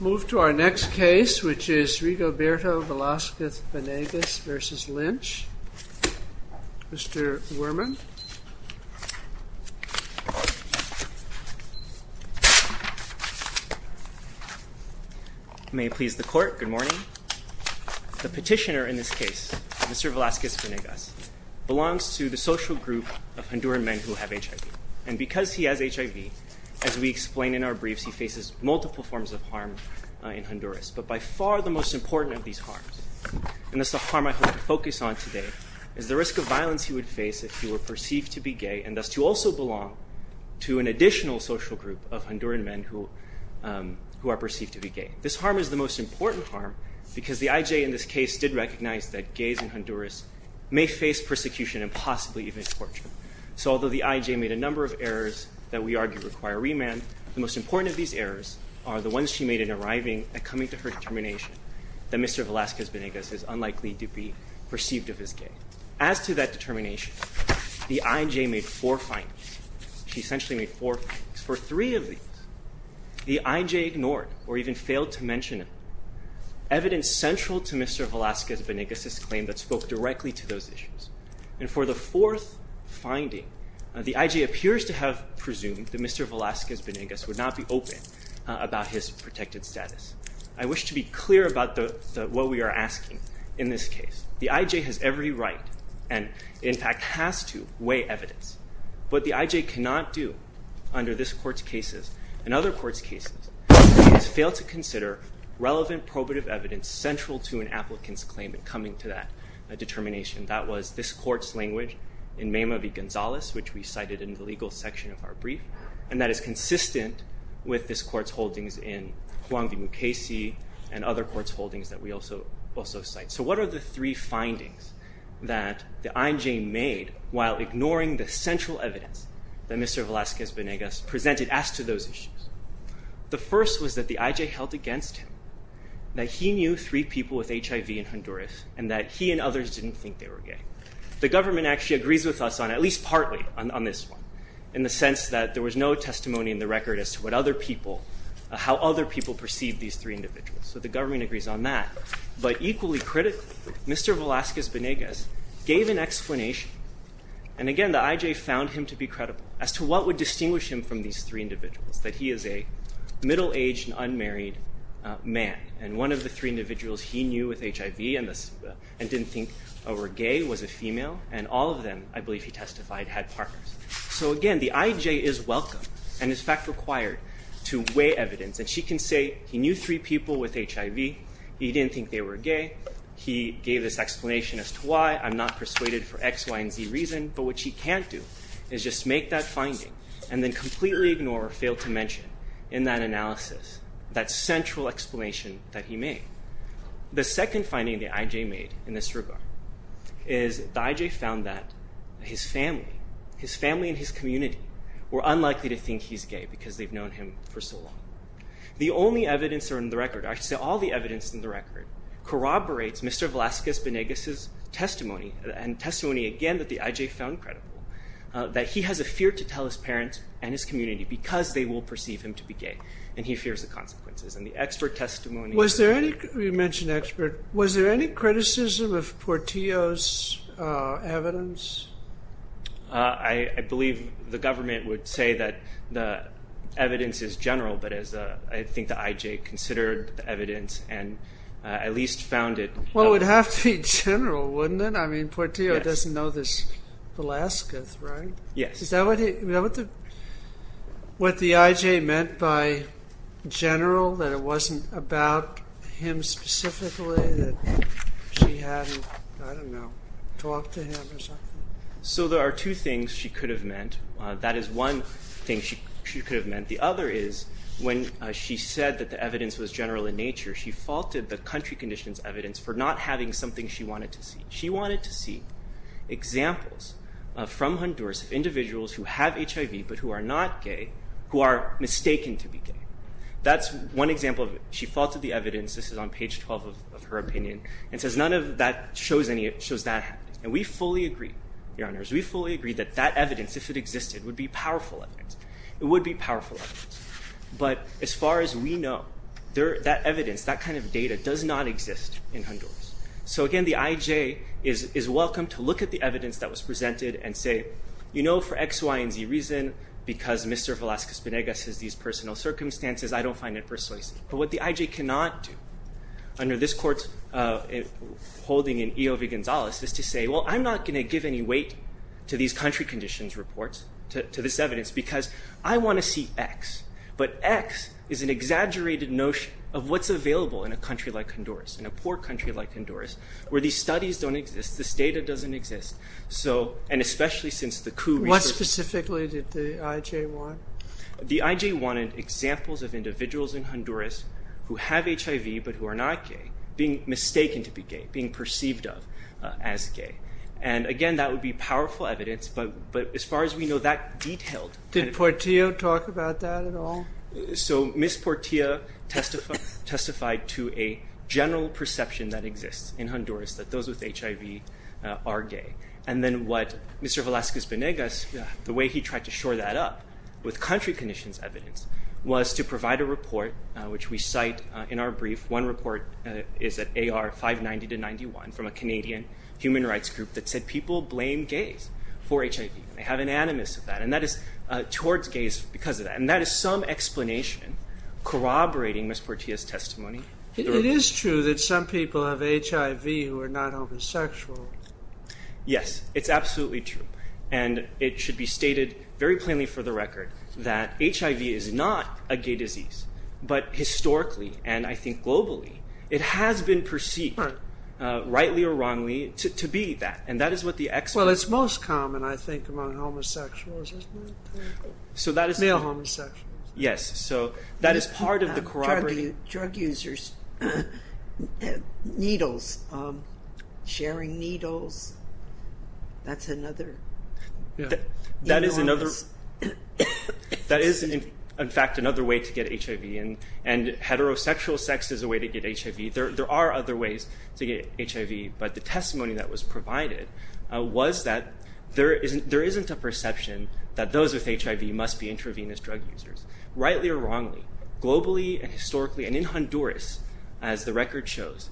We'll move to our next case which is Rigoberto Velasquez-Banegas v. Lynch. Mr. Werman. May it please the court, good morning. The petitioner in this case, Mr. Velasquez-Banegas, belongs to the social group of Honduran men who have HIV. And because he has HIV, as we But by far the most important of these harms, and that's the harm I hope to focus on today, is the risk of violence he would face if he were perceived to be gay and thus to also belong to an additional social group of Honduran men who are perceived to be gay. This harm is the most important harm because the IJ in this case did recognize that gays in Honduras may face persecution and possibly even torture. So although the IJ made a number of errors that we argue require remand, the most important of these errors are the ones she made in arriving and coming to her determination that Mr. Velasquez-Banegas is unlikely to be perceived of as gay. As to that determination, the IJ made four findings. She essentially made four findings. For three of these, the IJ ignored or even failed to mention evidence central to Mr. Velasquez-Banegas' claim that spoke directly to those issues. And for the fourth finding, the IJ appears to have presumed that Mr. Velasquez-Banegas would not be open about his protected status. I wish to be clear about what we are asking in this case. The IJ has every right, and in fact has to, weigh evidence. What the IJ cannot do under this Court's cases and other Courts' cases is fail to consider relevant probative evidence central to an applicant's claim in coming to that determination. That was this Court's language in Mema v. Gonzalez, which we cited in the legal section of our brief, and that is consistent with this Court's holdings in Juan v. Mukasey and other Courts' holdings that we also cite. So what are the three findings that the IJ made while ignoring the central evidence that Mr. Velasquez-Banegas presented as to those issues? The first was that the IJ held against him, that he knew three people with HIV in Honduras, and that he and others didn't think they were gay. The government actually agrees with us on, at least partly, on this one, in the sense that there was no testimony in the record as to what other people, how other people perceived these three individuals. So the government agrees on that. But equally critically, Mr. Velasquez-Banegas gave an explanation, and again the IJ found him to be credible, as to what would distinguish him from these three individuals, that he is a middle-aged and unmarried man, and one of the three individuals he knew with HIV and didn't think were gay was a female, and all of them, I believe he testified, had partners. So again, the IJ is welcome, and in fact required, to weigh evidence, and she can say he knew three people with HIV, he didn't think they were gay, he gave this explanation as to why, I'm not persuaded for X, Y, and Z reason, but what she can't do is just make that finding and then completely ignore or fail to mention in that analysis that central explanation that he made. The second finding the IJ made in this regard is the IJ found that his family, his family and his community, were unlikely to think he's gay because they've known him for so long. The only evidence in the record, actually all the evidence in the record, corroborates Mr. Velazquez-Venegas' testimony, and testimony again that the IJ found credible, that he has a fear to tell his parents and his community because they will perceive him to be gay, and he fears the consequences, and the expert testimony... Was there any, you mentioned expert, was there any criticism of Portillo's evidence? I believe the government would say that the evidence is general, but I think the IJ considered the evidence and at least found it... Well, it would have to be general, wouldn't it? I mean, Portillo doesn't know this Velazquez, right? Yes. Is that what the IJ meant by general, that it wasn't about him specifically, that she hadn't, I don't know, talked to him or something? So there are two things she could have meant. That is one thing she could have meant. The other is when she said that the evidence was general in nature, she faulted the country conditions evidence for not having something she wanted to see. She wanted to see examples from Honduras of individuals who have HIV but who are not gay, who are mistaken to be gay. That's one example of it. She faulted the evidence, this is on page 12 of her opinion, and says none of that shows that happening. And we fully agree, Your Honors, we fully agree that that evidence, if it existed, would be powerful evidence. It would be powerful evidence. But as far as we know, that evidence, that kind of data does not exist in Honduras. So again, the IJ is welcome to look at the evidence that was presented and say, you know, for X, Y, and Z reason, because Mr. Velazquez-Penegas has these personal circumstances, I don't find it persuasive. But what the IJ cannot do under this Court's holding in E.O.V. Gonzalez is to say, well, I'm not going to give any weight to these country conditions reports, to this evidence, because I want to see X. But X is an exaggerated notion of what's available in a country like Honduras, in a poor country like Honduras, where these studies don't exist, this data doesn't exist. So, and especially since the coup- What specifically did the IJ want? The IJ wanted examples of individuals in Honduras who have HIV but who are not gay, being mistaken to be gay, being perceived of as gay. And again, that would be powerful evidence, but as far as we know, that detailed- Did Portillo talk about that at all? So Ms. Portillo testified to a general perception that exists in Honduras, that those with HIV are gay. And then what Mr. Velazquez-Penegas, the way he tried to shore that up, with country conditions evidence, was to provide a report, which we cite in our brief. One report is at AR 590-91 from a Canadian human rights group that said people blame gays for HIV. They have an animus of that, and that is towards gays because of that. And that is some explanation corroborating Ms. Portillo's testimony. It is true that some people have HIV who are not homosexual. Yes, it's absolutely true. And it should be stated very plainly for the record that HIV is not a gay disease. But historically, and I think globally, it has been perceived, rightly or wrongly, to be that. And that is what the experts- Well, it's most common, I think, among homosexuals, isn't it? Male homosexuals. Yes, so that is part of the corroborating- Drug users, needles, sharing needles, that's another- That is, in fact, another way to get HIV, and heterosexual sex is a way to get HIV. There are other ways to get HIV, but the testimony that was provided was that there isn't a perception that those with HIV must be intravenous drug users. Rightly or wrongly, globally and historically, and in Honduras, as the record shows,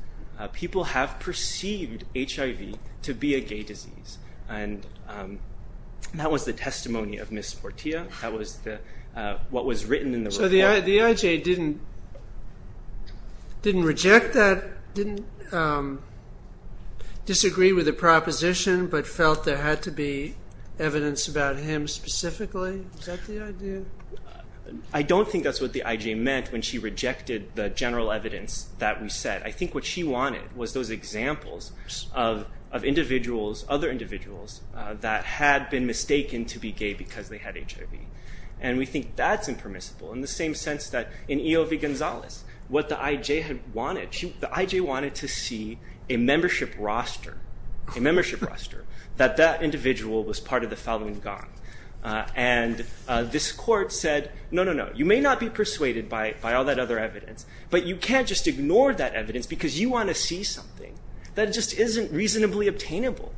people have perceived HIV to be a gay disease. And that was the testimony of Ms. Portilla. That was what was written in the report. So the IJ didn't reject that, didn't disagree with the proposition, but felt there had to be evidence about him specifically? Is that the idea? I don't think that's what the IJ meant when she rejected the general evidence that we said. I think what she wanted was those examples of individuals, other individuals, that had been mistaken to be gay because they had HIV. And we think that's impermissible, in the same sense that in EOV Gonzalez, what the IJ had wanted, the IJ wanted to see a membership roster, a membership roster, that that individual was part of the following gang. And this court said, no, no, no, you may not be persuaded by all that other evidence, but you can't just ignore that evidence because you want to see something that just isn't reasonably obtainable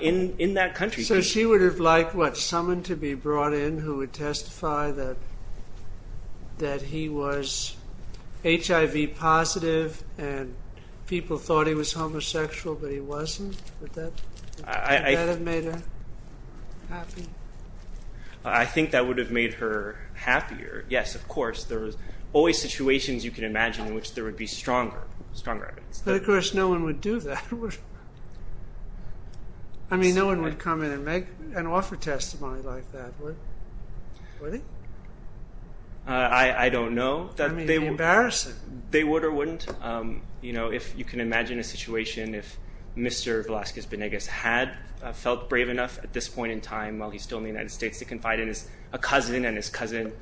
in that country. So she would have liked someone to be brought in who would testify that he was HIV positive and people thought he was homosexual, but he wasn't? Would that have made her happy? I think that would have made her happier. Yes, of course, there was always situations you can imagine in which there would be stronger evidence. But, of course, no one would do that. I mean, no one would come in and make an offer testimony like that, would they? I don't know. That would be embarrassing. They would or wouldn't. If you can imagine a situation if Mr. Velazquez-Benegas had felt brave enough at this point in time while he's still in the United States to confide in a cousin and his cousin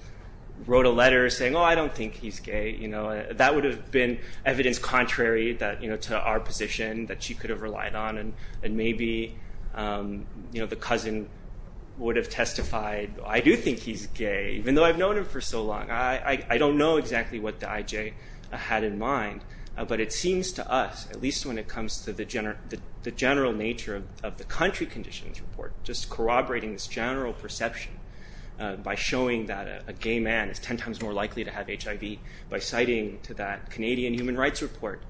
wrote a letter saying, oh, I don't think he's gay. That would have been evidence contrary to our position that she could have relied on and maybe the cousin would have testified, I do think he's gay, even though I've known him for so long. I don't know exactly what the IJ had in mind. But it seems to us, at least when it comes to the general nature of the country conditions report, just corroborating this general perception by showing that a gay man is ten times more likely to have HIV by citing to that Canadian human rights report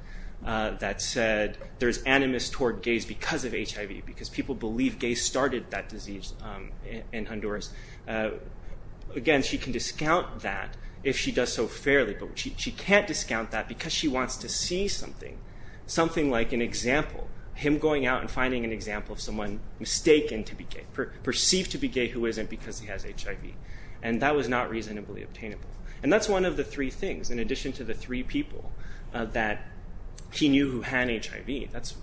that said there's animus toward gays because of HIV, because people believe gays started that disease in Honduras. Again, she can discount that if she does so fairly, but she can't discount that because she wants to see something, something like an example, him going out and finding an example of someone mistaken to be gay, perceived to be gay who isn't because he has HIV, and that was not reasonably obtainable. And that's one of the three things, in addition to the three people that he knew who had HIV. That's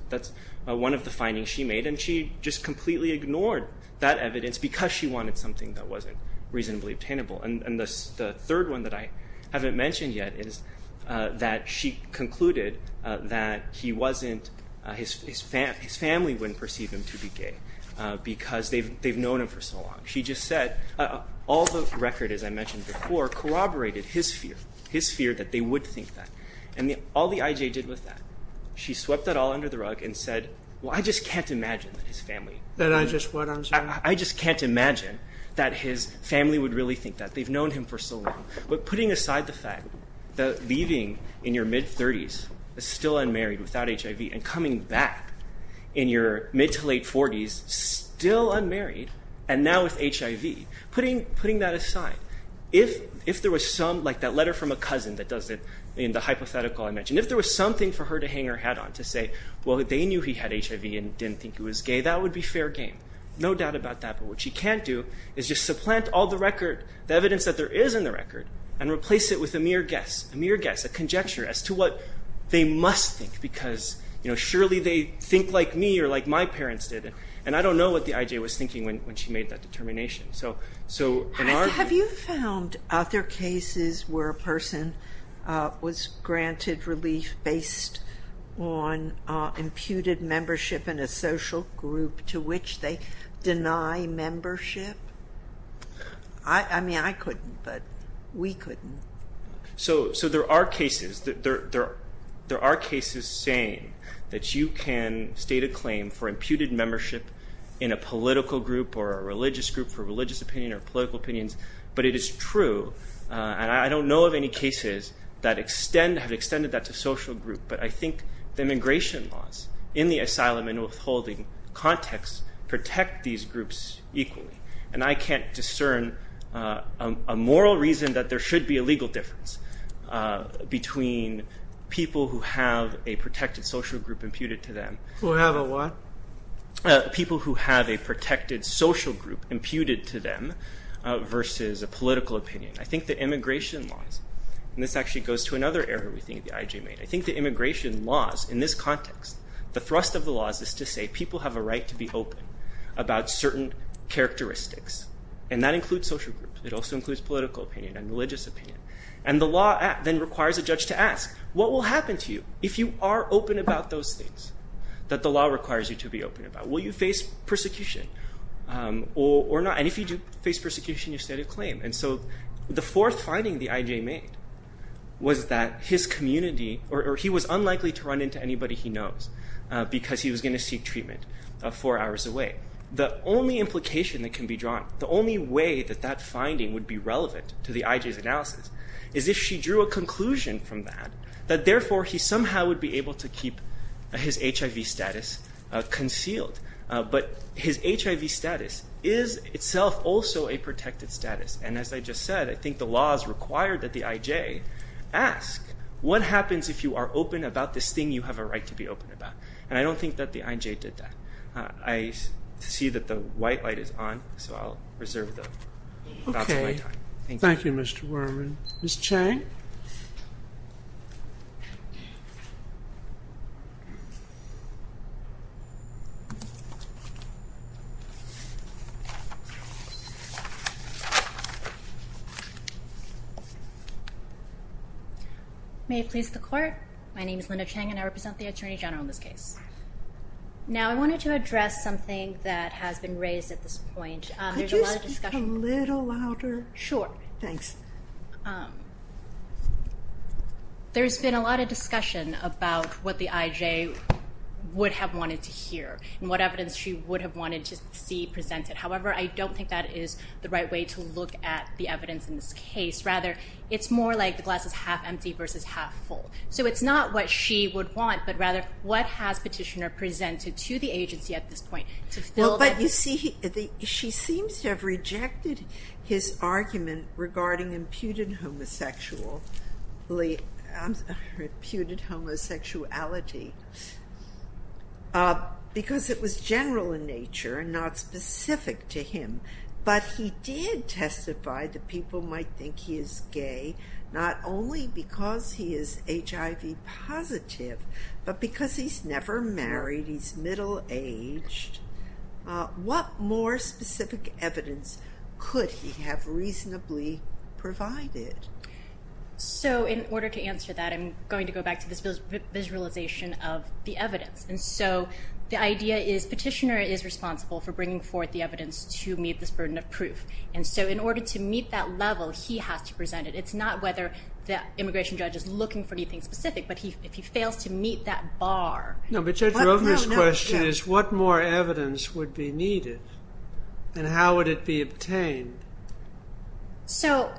one of the findings she made, and she just completely ignored that evidence because she wanted something that wasn't reasonably obtainable. And the third one that I haven't mentioned yet is that she concluded that he wasn't, his family wouldn't perceive him to be gay because they've known him for so long. She just said all the record, as I mentioned before, corroborated his fear, his fear that they would think that. And all the IJ did was that. She swept that all under the rug and said, well, I just can't imagine that his family. That I just what I'm saying? I just can't imagine that his family would really think that. They've known him for so long. But putting aside the fact that leaving in your mid-30s is still unmarried without HIV and coming back in your mid to late 40s still unmarried and now with HIV, putting that aside, if there was some, like that letter from a cousin that does it in the hypothetical I mentioned, if there was something for her to hang her hat on to say, well, they knew he had HIV and didn't think he was gay, that would be fair game. No doubt about that. But what she can't do is just supplant all the record, the evidence that there is in the record, and replace it with a mere guess, a mere guess, a conjecture as to what they must think because surely they think like me or like my parents did. And I don't know what the IJ was thinking when she made that determination. Have you found other cases where a person was granted relief based on imputed membership in a social group to which they deny membership? I mean, I couldn't, but we couldn't. So there are cases saying that you can state a claim for imputed membership in a political group or a religious group for religious opinion or political opinions, but it is true. And I don't know of any cases that extend, have extended that to social group, but I think the immigration laws in the asylum and withholding context protect these groups equally. And I can't discern a moral reason that there should be a legal difference between people who have a protected social group imputed to them. Who have a what? People who have a protected social group imputed to them versus a political opinion. I think the immigration laws, and this actually goes to another area we think the IJ made. I think the immigration laws in this context, the thrust of the laws is to say people have a right to be open about certain characteristics, and that includes social groups. It also includes political opinion and religious opinion. And the law then requires a judge to ask, what will happen to you if you are open about those things? That the law requires you to be open about. Will you face persecution or not? And if you do face persecution, you state a claim. And so the fourth finding the IJ made was that his community, or he was unlikely to run into anybody he knows because he was going to seek treatment four hours away. The only implication that can be drawn, the only way that that finding would be relevant to the IJ's analysis is if she drew a conclusion from that, that therefore he somehow would be able to keep his HIV status concealed. But his HIV status is itself also a protected status. And as I just said, I think the laws require that the IJ ask, what happens if you are open about this thing you have a right to be open about? And I don't think that the IJ did that. I see that the white light is on, so I'll reserve the balance of my time. Thank you, Mr. Worman. Ms. Chang? May it please the court. My name is Linda Chang and I represent the Attorney General in this case. Now I wanted to address something that has been raised at this point. Could you speak a little louder? Sure. Thanks. There's been a lot of discussion about what the IJ would have wanted to hear and what evidence she would have wanted to see presented. However, I don't think that is the right way to look at the evidence in this case. Rather, it's more like the glass is half empty versus half full. So it's not what she would want, but rather what has Petitioner presented to the agency at this point? She seems to have rejected his argument regarding imputed homosexuality because it was general in nature and not specific to him. But he did testify that people might think he is gay not only because he is HIV positive, but because he's never married, he's middle-aged. What more specific evidence could he have reasonably provided? So in order to answer that, I'm going to go back to this visualization of the evidence. And so the idea is Petitioner is responsible for bringing forth the evidence to meet this burden of proof. And so in order to meet that level, he has to present it. It's not whether the immigration judge is looking for anything specific, but if he fails to meet that bar. No, but Judge Rovner's question is what more evidence would be needed? And how would it be obtained? So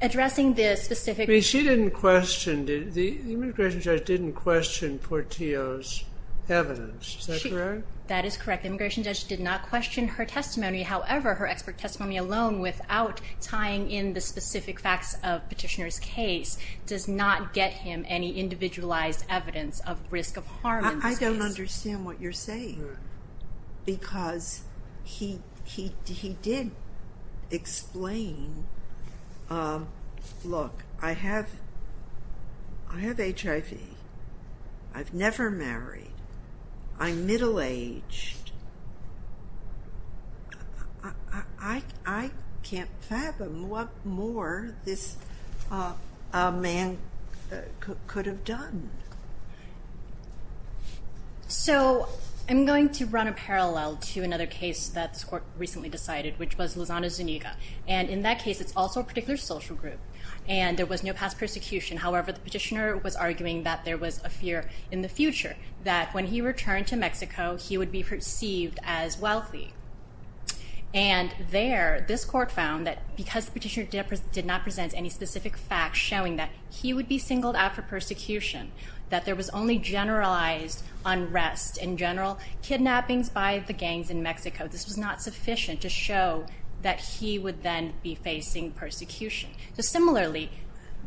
addressing this specific... She didn't question, the immigration judge didn't question Portillo's evidence. Is that correct? That is correct. The immigration judge did not question her testimony. Does not get him any individualized evidence of risk of harm. I don't understand what you're saying. Because he did explain, look, I have HIV. I've never married. I'm middle-aged. I can't fathom what more this man could have done. So I'm going to run a parallel to another case that this court recently decided, which was Lozano Zuniga. And in that case, it's also a particular social group. And there was no past persecution. However, the Petitioner was arguing that there was a fear in the future, that when he returned to Mexico, he would be perceived as wealthy. And there, this court found that because the Petitioner did not present any specific facts showing that he would be singled out for persecution, that there was only generalized unrest in general, kidnappings by the gangs in Mexico. This was not sufficient to show that he would then be facing persecution. So similarly,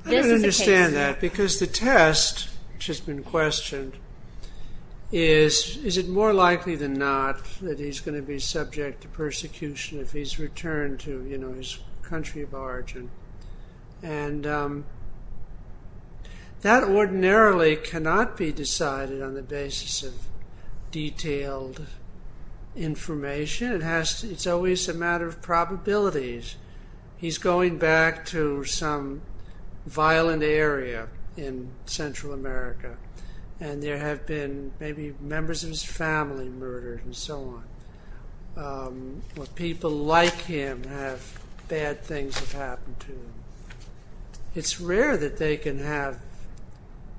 this is a case... Is it more likely than not that he's going to be subject to persecution if he's returned to his country of origin? And that ordinarily cannot be decided on the basis of detailed information. It's always a matter of probabilities. He's going back to some violent area in Central America. And there have been maybe members of his family murdered and so on. Or people like him have bad things have happened to them. It's rare that they can have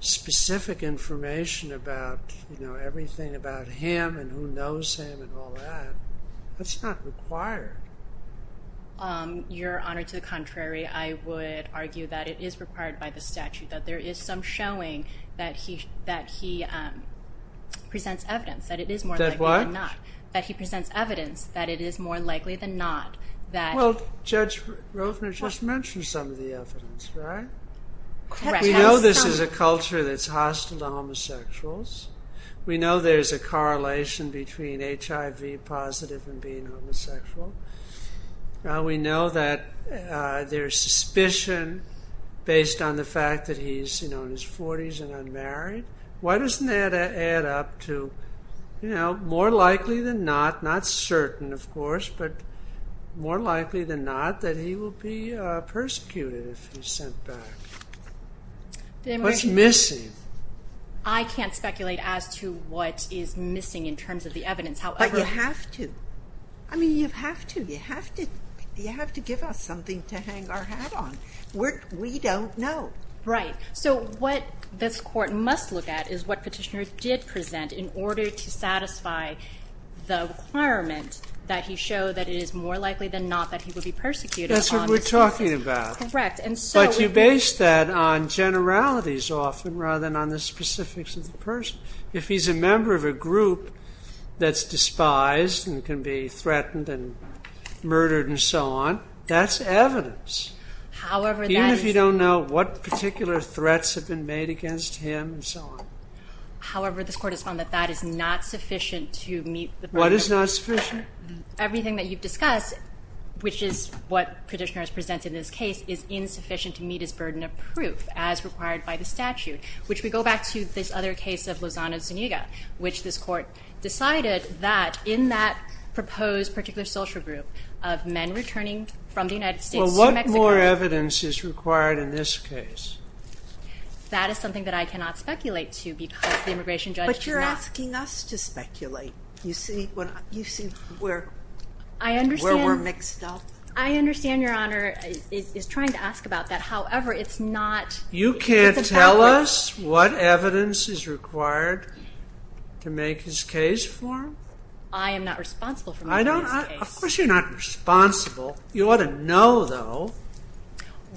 specific information about, you know, everything about him and who knows him and all that. That's not required. Your Honor, to the contrary. I would argue that it is required by the statute, that there is some showing that he presents evidence that it is more likely than not. That what? That he presents evidence that it is more likely than not that... Well, Judge Rovner just mentioned some of the evidence, right? Correct. We know this is a culture that's hostile to homosexuals. We know there's a correlation between HIV positive and being homosexual. We know that there's suspicion based on the fact that he's, you know, in his 40s and unmarried. Why doesn't that add up to, you know, more likely than not, not certain of course, but more likely than not that he will be persecuted if he's sent back? What's missing? I can't speculate as to what is missing in terms of the evidence. But you have to. I mean, you have to. You have to give us something to hang our hat on. We don't know. Right. So what this Court must look at is what Petitioner did present in order to satisfy the requirement that he show that it is more likely than not that he will be persecuted. That's what we're talking about. Correct. But you base that on generalities often rather than on the specifics of the person. If he's a member of a group that's despised and can be threatened and murdered and so on, that's evidence. Even if you don't know what particular threats have been made against him and so on. However, this Court has found that that is not sufficient to meet the burden of proof. What is not sufficient? Everything that you've discussed, which is what Petitioner has presented in this case, is insufficient to meet his burden of proof as required by the statute, which we go back to this other case of Lozano-Zuniga, which this Court decided that in that proposed particular social group of men returning from the United States to Mexico. Well, what more evidence is required in this case? That is something that I cannot speculate to because the immigration judge does not. But you're asking us to speculate. You see where we're mixed up. I understand, Your Honor, is trying to ask about that. You can't tell us what evidence is required to make his case for him? I am not responsible for making his case. Of course you're not responsible. You ought to know, though,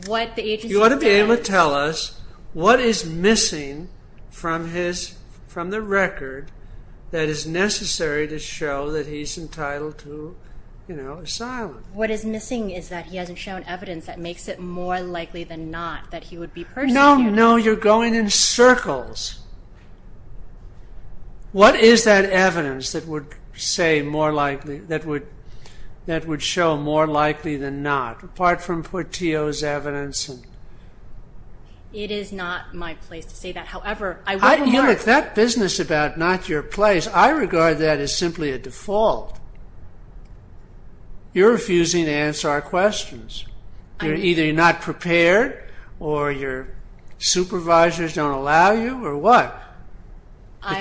you ought to be able to tell us what is missing from the record that is necessary to show that he's entitled to asylum. What is missing is that he hasn't shown evidence that makes it more likely than not that he would be persecuted. No, no, you're going in circles. What is that evidence that would say more likely, that would show more likely than not, apart from Portillo's evidence? It is not my place to say that. However, I would regard... You're in that business about not your place. I regard that as simply a default. You're refusing to answer our questions. You're either not prepared, or your supervisors don't allow you, or what?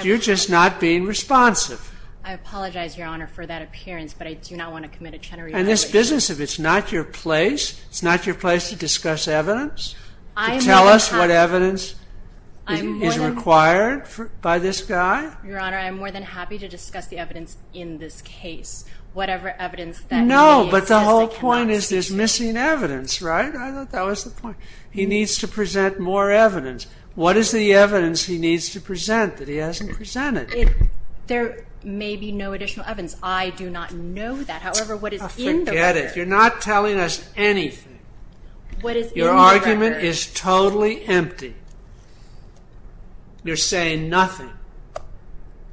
You're just not being responsive. I apologize, Your Honor, for that appearance, but I do not want to commit a Chenery violation. In this business, if it's not your place, it's not your place to discuss evidence, to tell us what evidence is required by this guy? Your Honor, I'm more than happy to discuss the evidence in this case. Whatever evidence that... No, but the whole point is there's missing evidence, right? I thought that was the point. He needs to present more evidence. What is the evidence he needs to present that he hasn't presented? There may be no additional evidence. I do not know that. However, what is in the record... Forget it. You're not telling us anything. Your argument is totally empty. You're saying nothing.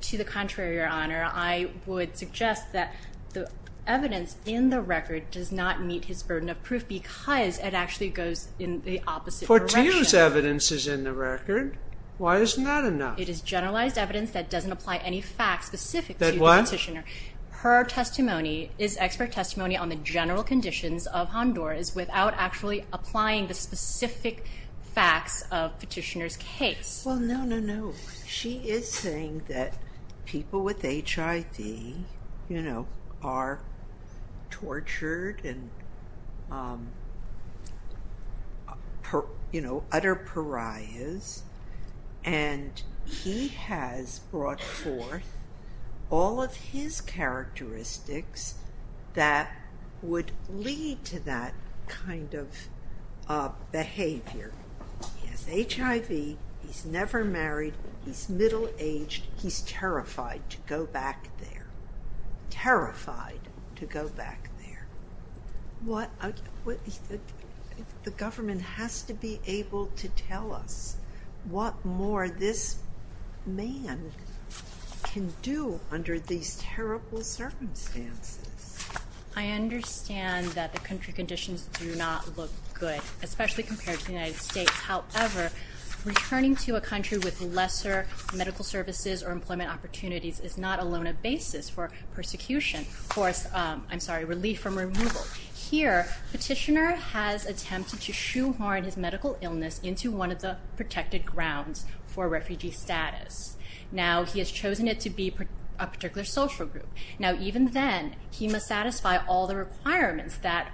To the contrary, Your Honor. I would suggest that the evidence in the record does not meet his burden of proof because it actually goes in the opposite direction. Portillo's evidence is in the record. Why isn't that enough? It is generalized evidence that doesn't apply any facts specific to the petitioner. That what? Her testimony is expert testimony on the general conditions of Honduras without actually applying the specific facts of petitioner's case. No, no, no. She is saying that people with HIV are tortured and utter pariahs, and he has brought forth all of his characteristics that would lead to that kind of behavior. He has HIV. He's never married. He's middle-aged. He's terrified to go back there. Terrified to go back there. The government has to be able to tell us what more this man can do under these terrible circumstances. I understand that the country conditions do not look good, especially compared to the United States. However, returning to a country with lesser medical services or employment opportunities is not alone a basis for persecution. I'm sorry, relief from removal. Here, petitioner has attempted to shoehorn his medical illness into one of the protected grounds for refugee status. Now, he has chosen it to be a particular social group. Now, even then, he must satisfy all the requirements that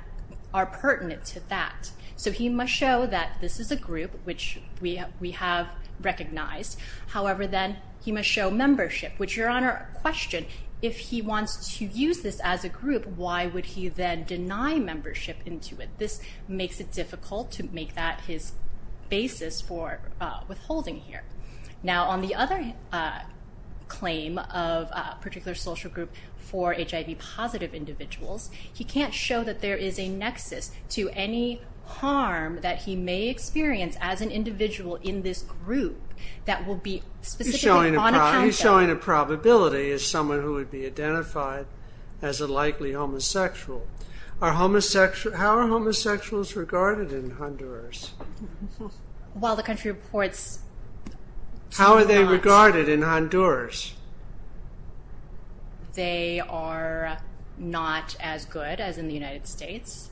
are pertinent to that. So he must show that this is a group which we have recognized. However, then, he must show membership, which, Your Honor, question, if he wants to use this as a group, why would he then deny membership into it? This makes it difficult to make that his basis for withholding here. Now, on the other claim of a particular social group for HIV-positive individuals, he can't show that there is a nexus to any harm that he may experience as an individual in this group that will be specifically on account of him. So he's showing a probability as someone who would be identified as a likely homosexual. How are homosexuals regarded in Honduras? Well, the country reports... How are they regarded in Honduras? They are not as good as in the United States.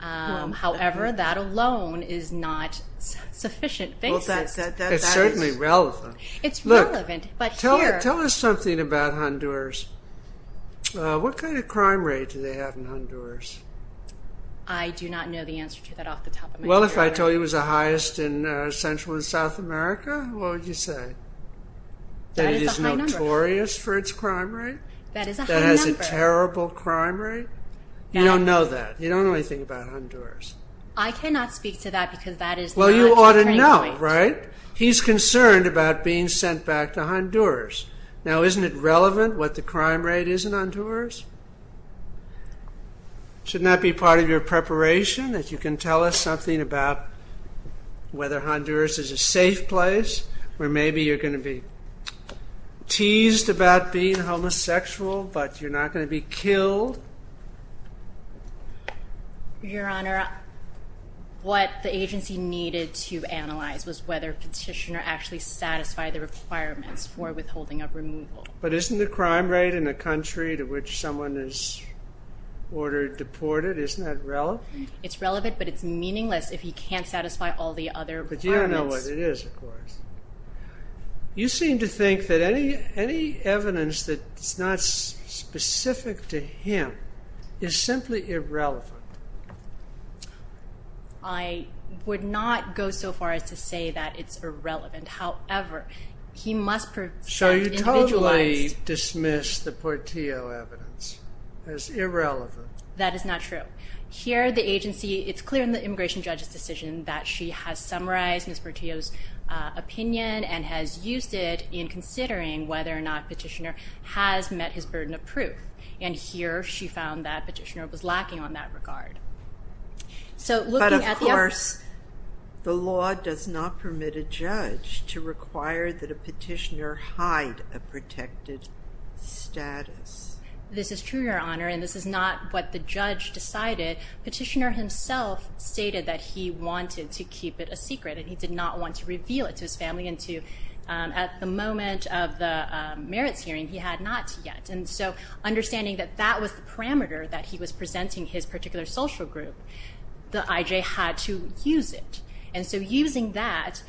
However, that alone is not sufficient basis. It's certainly relevant. It's relevant, but here... Tell us something about Honduras. What kind of crime rate do they have in Honduras? I do not know the answer to that off the top of my head. Well, if I told you it was the highest in Central and South America, what would you say? That it is notorious for its crime rate? That it has a terrible crime rate? You don't know that. You don't know anything about Honduras. I cannot speak to that because that is not... Well, you ought to know, right? He's concerned about being sent back to Honduras. Now, isn't it relevant what the crime rate is in Honduras? Shouldn't that be part of your preparation, that you can tell us something about whether Honduras is a safe place or maybe you're going to be teased about being homosexual, but you're not going to be killed? Your Honor, what the agency needed to analyze was whether Petitioner actually satisfied the requirements for withholding of removal. But isn't the crime rate in a country to which someone is ordered deported, isn't that relevant? It's relevant, but it's meaningless if he can't satisfy all the other requirements. But you don't know what it is, of course. You seem to think that any evidence that's not specific to him is simply irrelevant. I would not go so far as to say that it's irrelevant. However, he must prove... So you totally dismiss the Portillo evidence as irrelevant. That is not true. ...that she has summarized Ms. Portillo's opinion and has used it in considering whether or not Petitioner has met his burden of proof. And here she found that Petitioner was lacking on that regard. But, of course, the law does not permit a judge to require that a petitioner hide a protected status. This is true, Your Honor, and this is not what the judge decided. Petitioner himself stated that he wanted to keep it a secret and he did not want to reveal it to his family and at the moment of the merits hearing he had not yet. And so understanding that that was the parameter that he was presenting his particular social group, the IJ had to use it. And so using that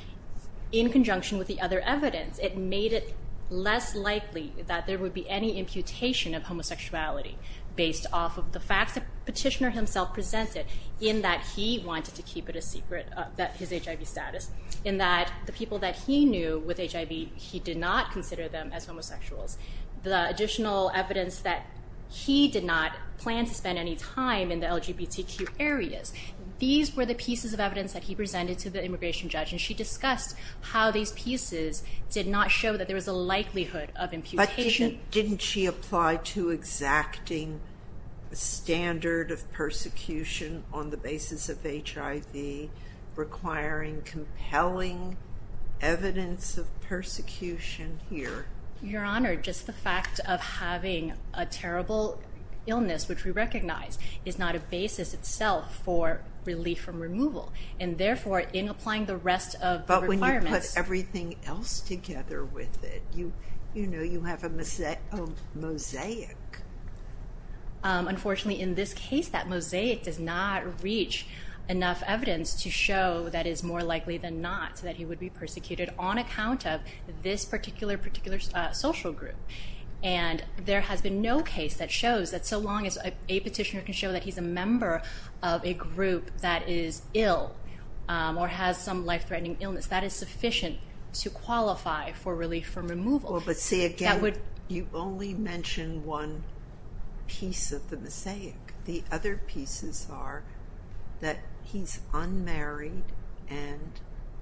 in conjunction with the other evidence, it made it less likely that there would be any imputation of homosexuality based off of the facts that Petitioner himself presented in that he wanted to keep it a secret, his HIV status, in that the people that he knew with HIV, he did not consider them as homosexuals. The additional evidence that he did not plan to spend any time in the LGBTQ areas, these were the pieces of evidence that he presented to the immigration judge and she discussed how these pieces did not show that there was a likelihood of imputation. Didn't she apply to exacting a standard of persecution on the basis of HIV, requiring compelling evidence of persecution here? Your Honor, just the fact of having a terrible illness, which we recognize is not a basis itself for relief from removal and therefore in applying the rest of the requirements. But when you put everything else together with it, you have a mosaic. Unfortunately, in this case, that mosaic does not reach enough evidence to show that it is more likely than not that he would be persecuted on account of this particular social group. And there has been no case that shows that so long as a petitioner can show that he's a member of a group that is ill or has some life-threatening illness, that is sufficient to qualify for relief from removal. Well, but see, again, you only mentioned one piece of the mosaic. The other pieces are that he's unmarried and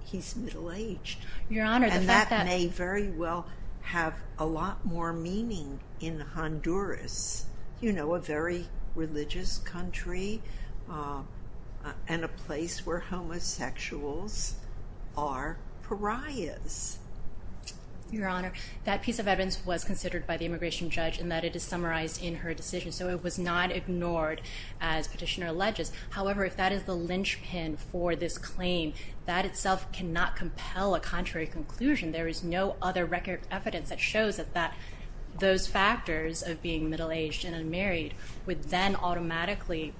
he's middle-aged. Your Honor, the fact that… And that may very well have a lot more meaning in Honduras, a very religious country and a place where homosexuals are pariahs. Your Honor, that piece of evidence was considered by the immigration judge and that it is summarized in her decision, so it was not ignored as petitioner alleges. However, if that is the linchpin for this claim, that itself cannot compel a contrary conclusion. There is no other record of evidence that shows that those factors of being middle-aged and unmarried would then automatically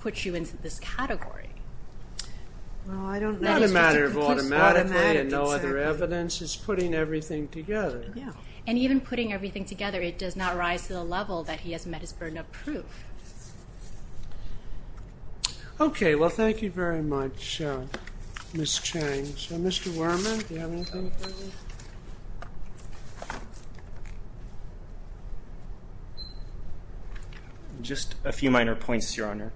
put you into this category. Not a matter of automatically and no other evidence. It's putting everything together. And even putting everything together, it does not rise to the level that he has met his burden of proof. Okay, well, thank you very much, Ms. Chang. Mr. Worman, do you have anything for me? Just a few minor points, Your Honor.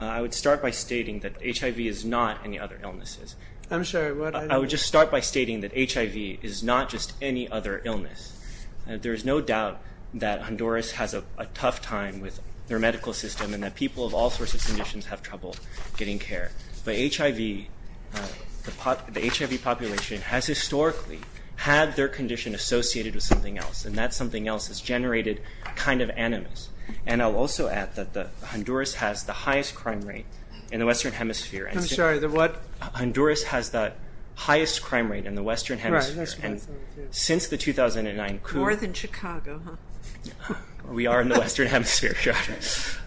I would start by stating that HIV is not any other illness. I'm sorry, what? I would just start by stating that HIV is not just any other illness. There is no doubt that Honduras has a tough time with their medical system and that people of all sorts of conditions have trouble getting care. But HIV, the HIV population has historically had their condition associated with something else, and that something else has generated kind of animus. And I'll also add that Honduras has the highest crime rate in the Western Hemisphere. I'm sorry, the what? Honduras has the highest crime rate in the Western Hemisphere. Right, that's what I'm saying, too. Since the 2009 coup. More than Chicago, huh? We are in the Western Hemisphere, Your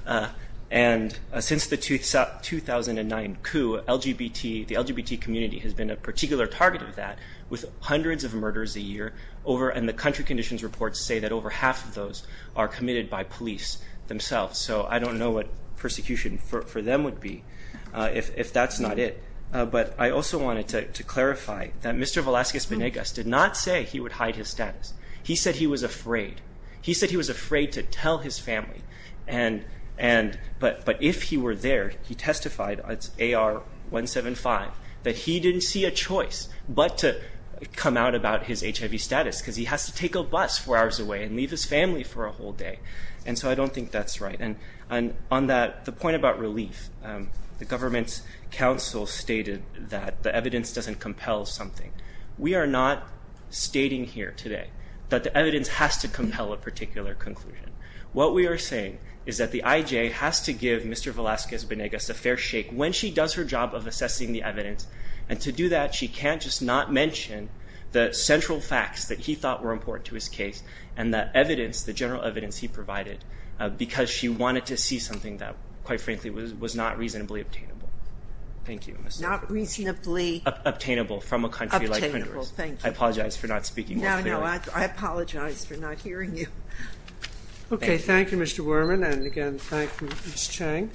Honor. And since the 2009 coup, the LGBT community has been a particular target of that with hundreds of murders a year, and the country conditions reports say that over half of those are committed by police themselves. So I don't know what persecution for them would be if that's not it. But I also wanted to clarify that Mr. Velazquez-Venegas did not say he would hide his status. He said he was afraid. He was afraid to tell his family. But if he were there, he testified, it's AR-175, that he didn't see a choice but to come out about his HIV status because he has to take a bus four hours away and leave his family for a whole day. And so I don't think that's right. And on the point about relief, the government's counsel stated that the evidence doesn't compel something. We are not stating here today that the evidence has to compel a particular conclusion. What we are saying is that the IJ has to give Mr. Velazquez-Venegas a fair shake when she does her job of assessing the evidence, and to do that she can't just not mention the central facts that he thought were important to his case and the evidence, the general evidence he provided, because she wanted to see something that, quite frankly, was not reasonably obtainable. Thank you. Not reasonably? Obtainable from a country like Honduras. Obtainable, thank you. I apologize for not speaking more clearly. I know. I apologize for not hearing you. Okay. Thank you, Mr. Worman. And, again, thank you, Ms. Chang.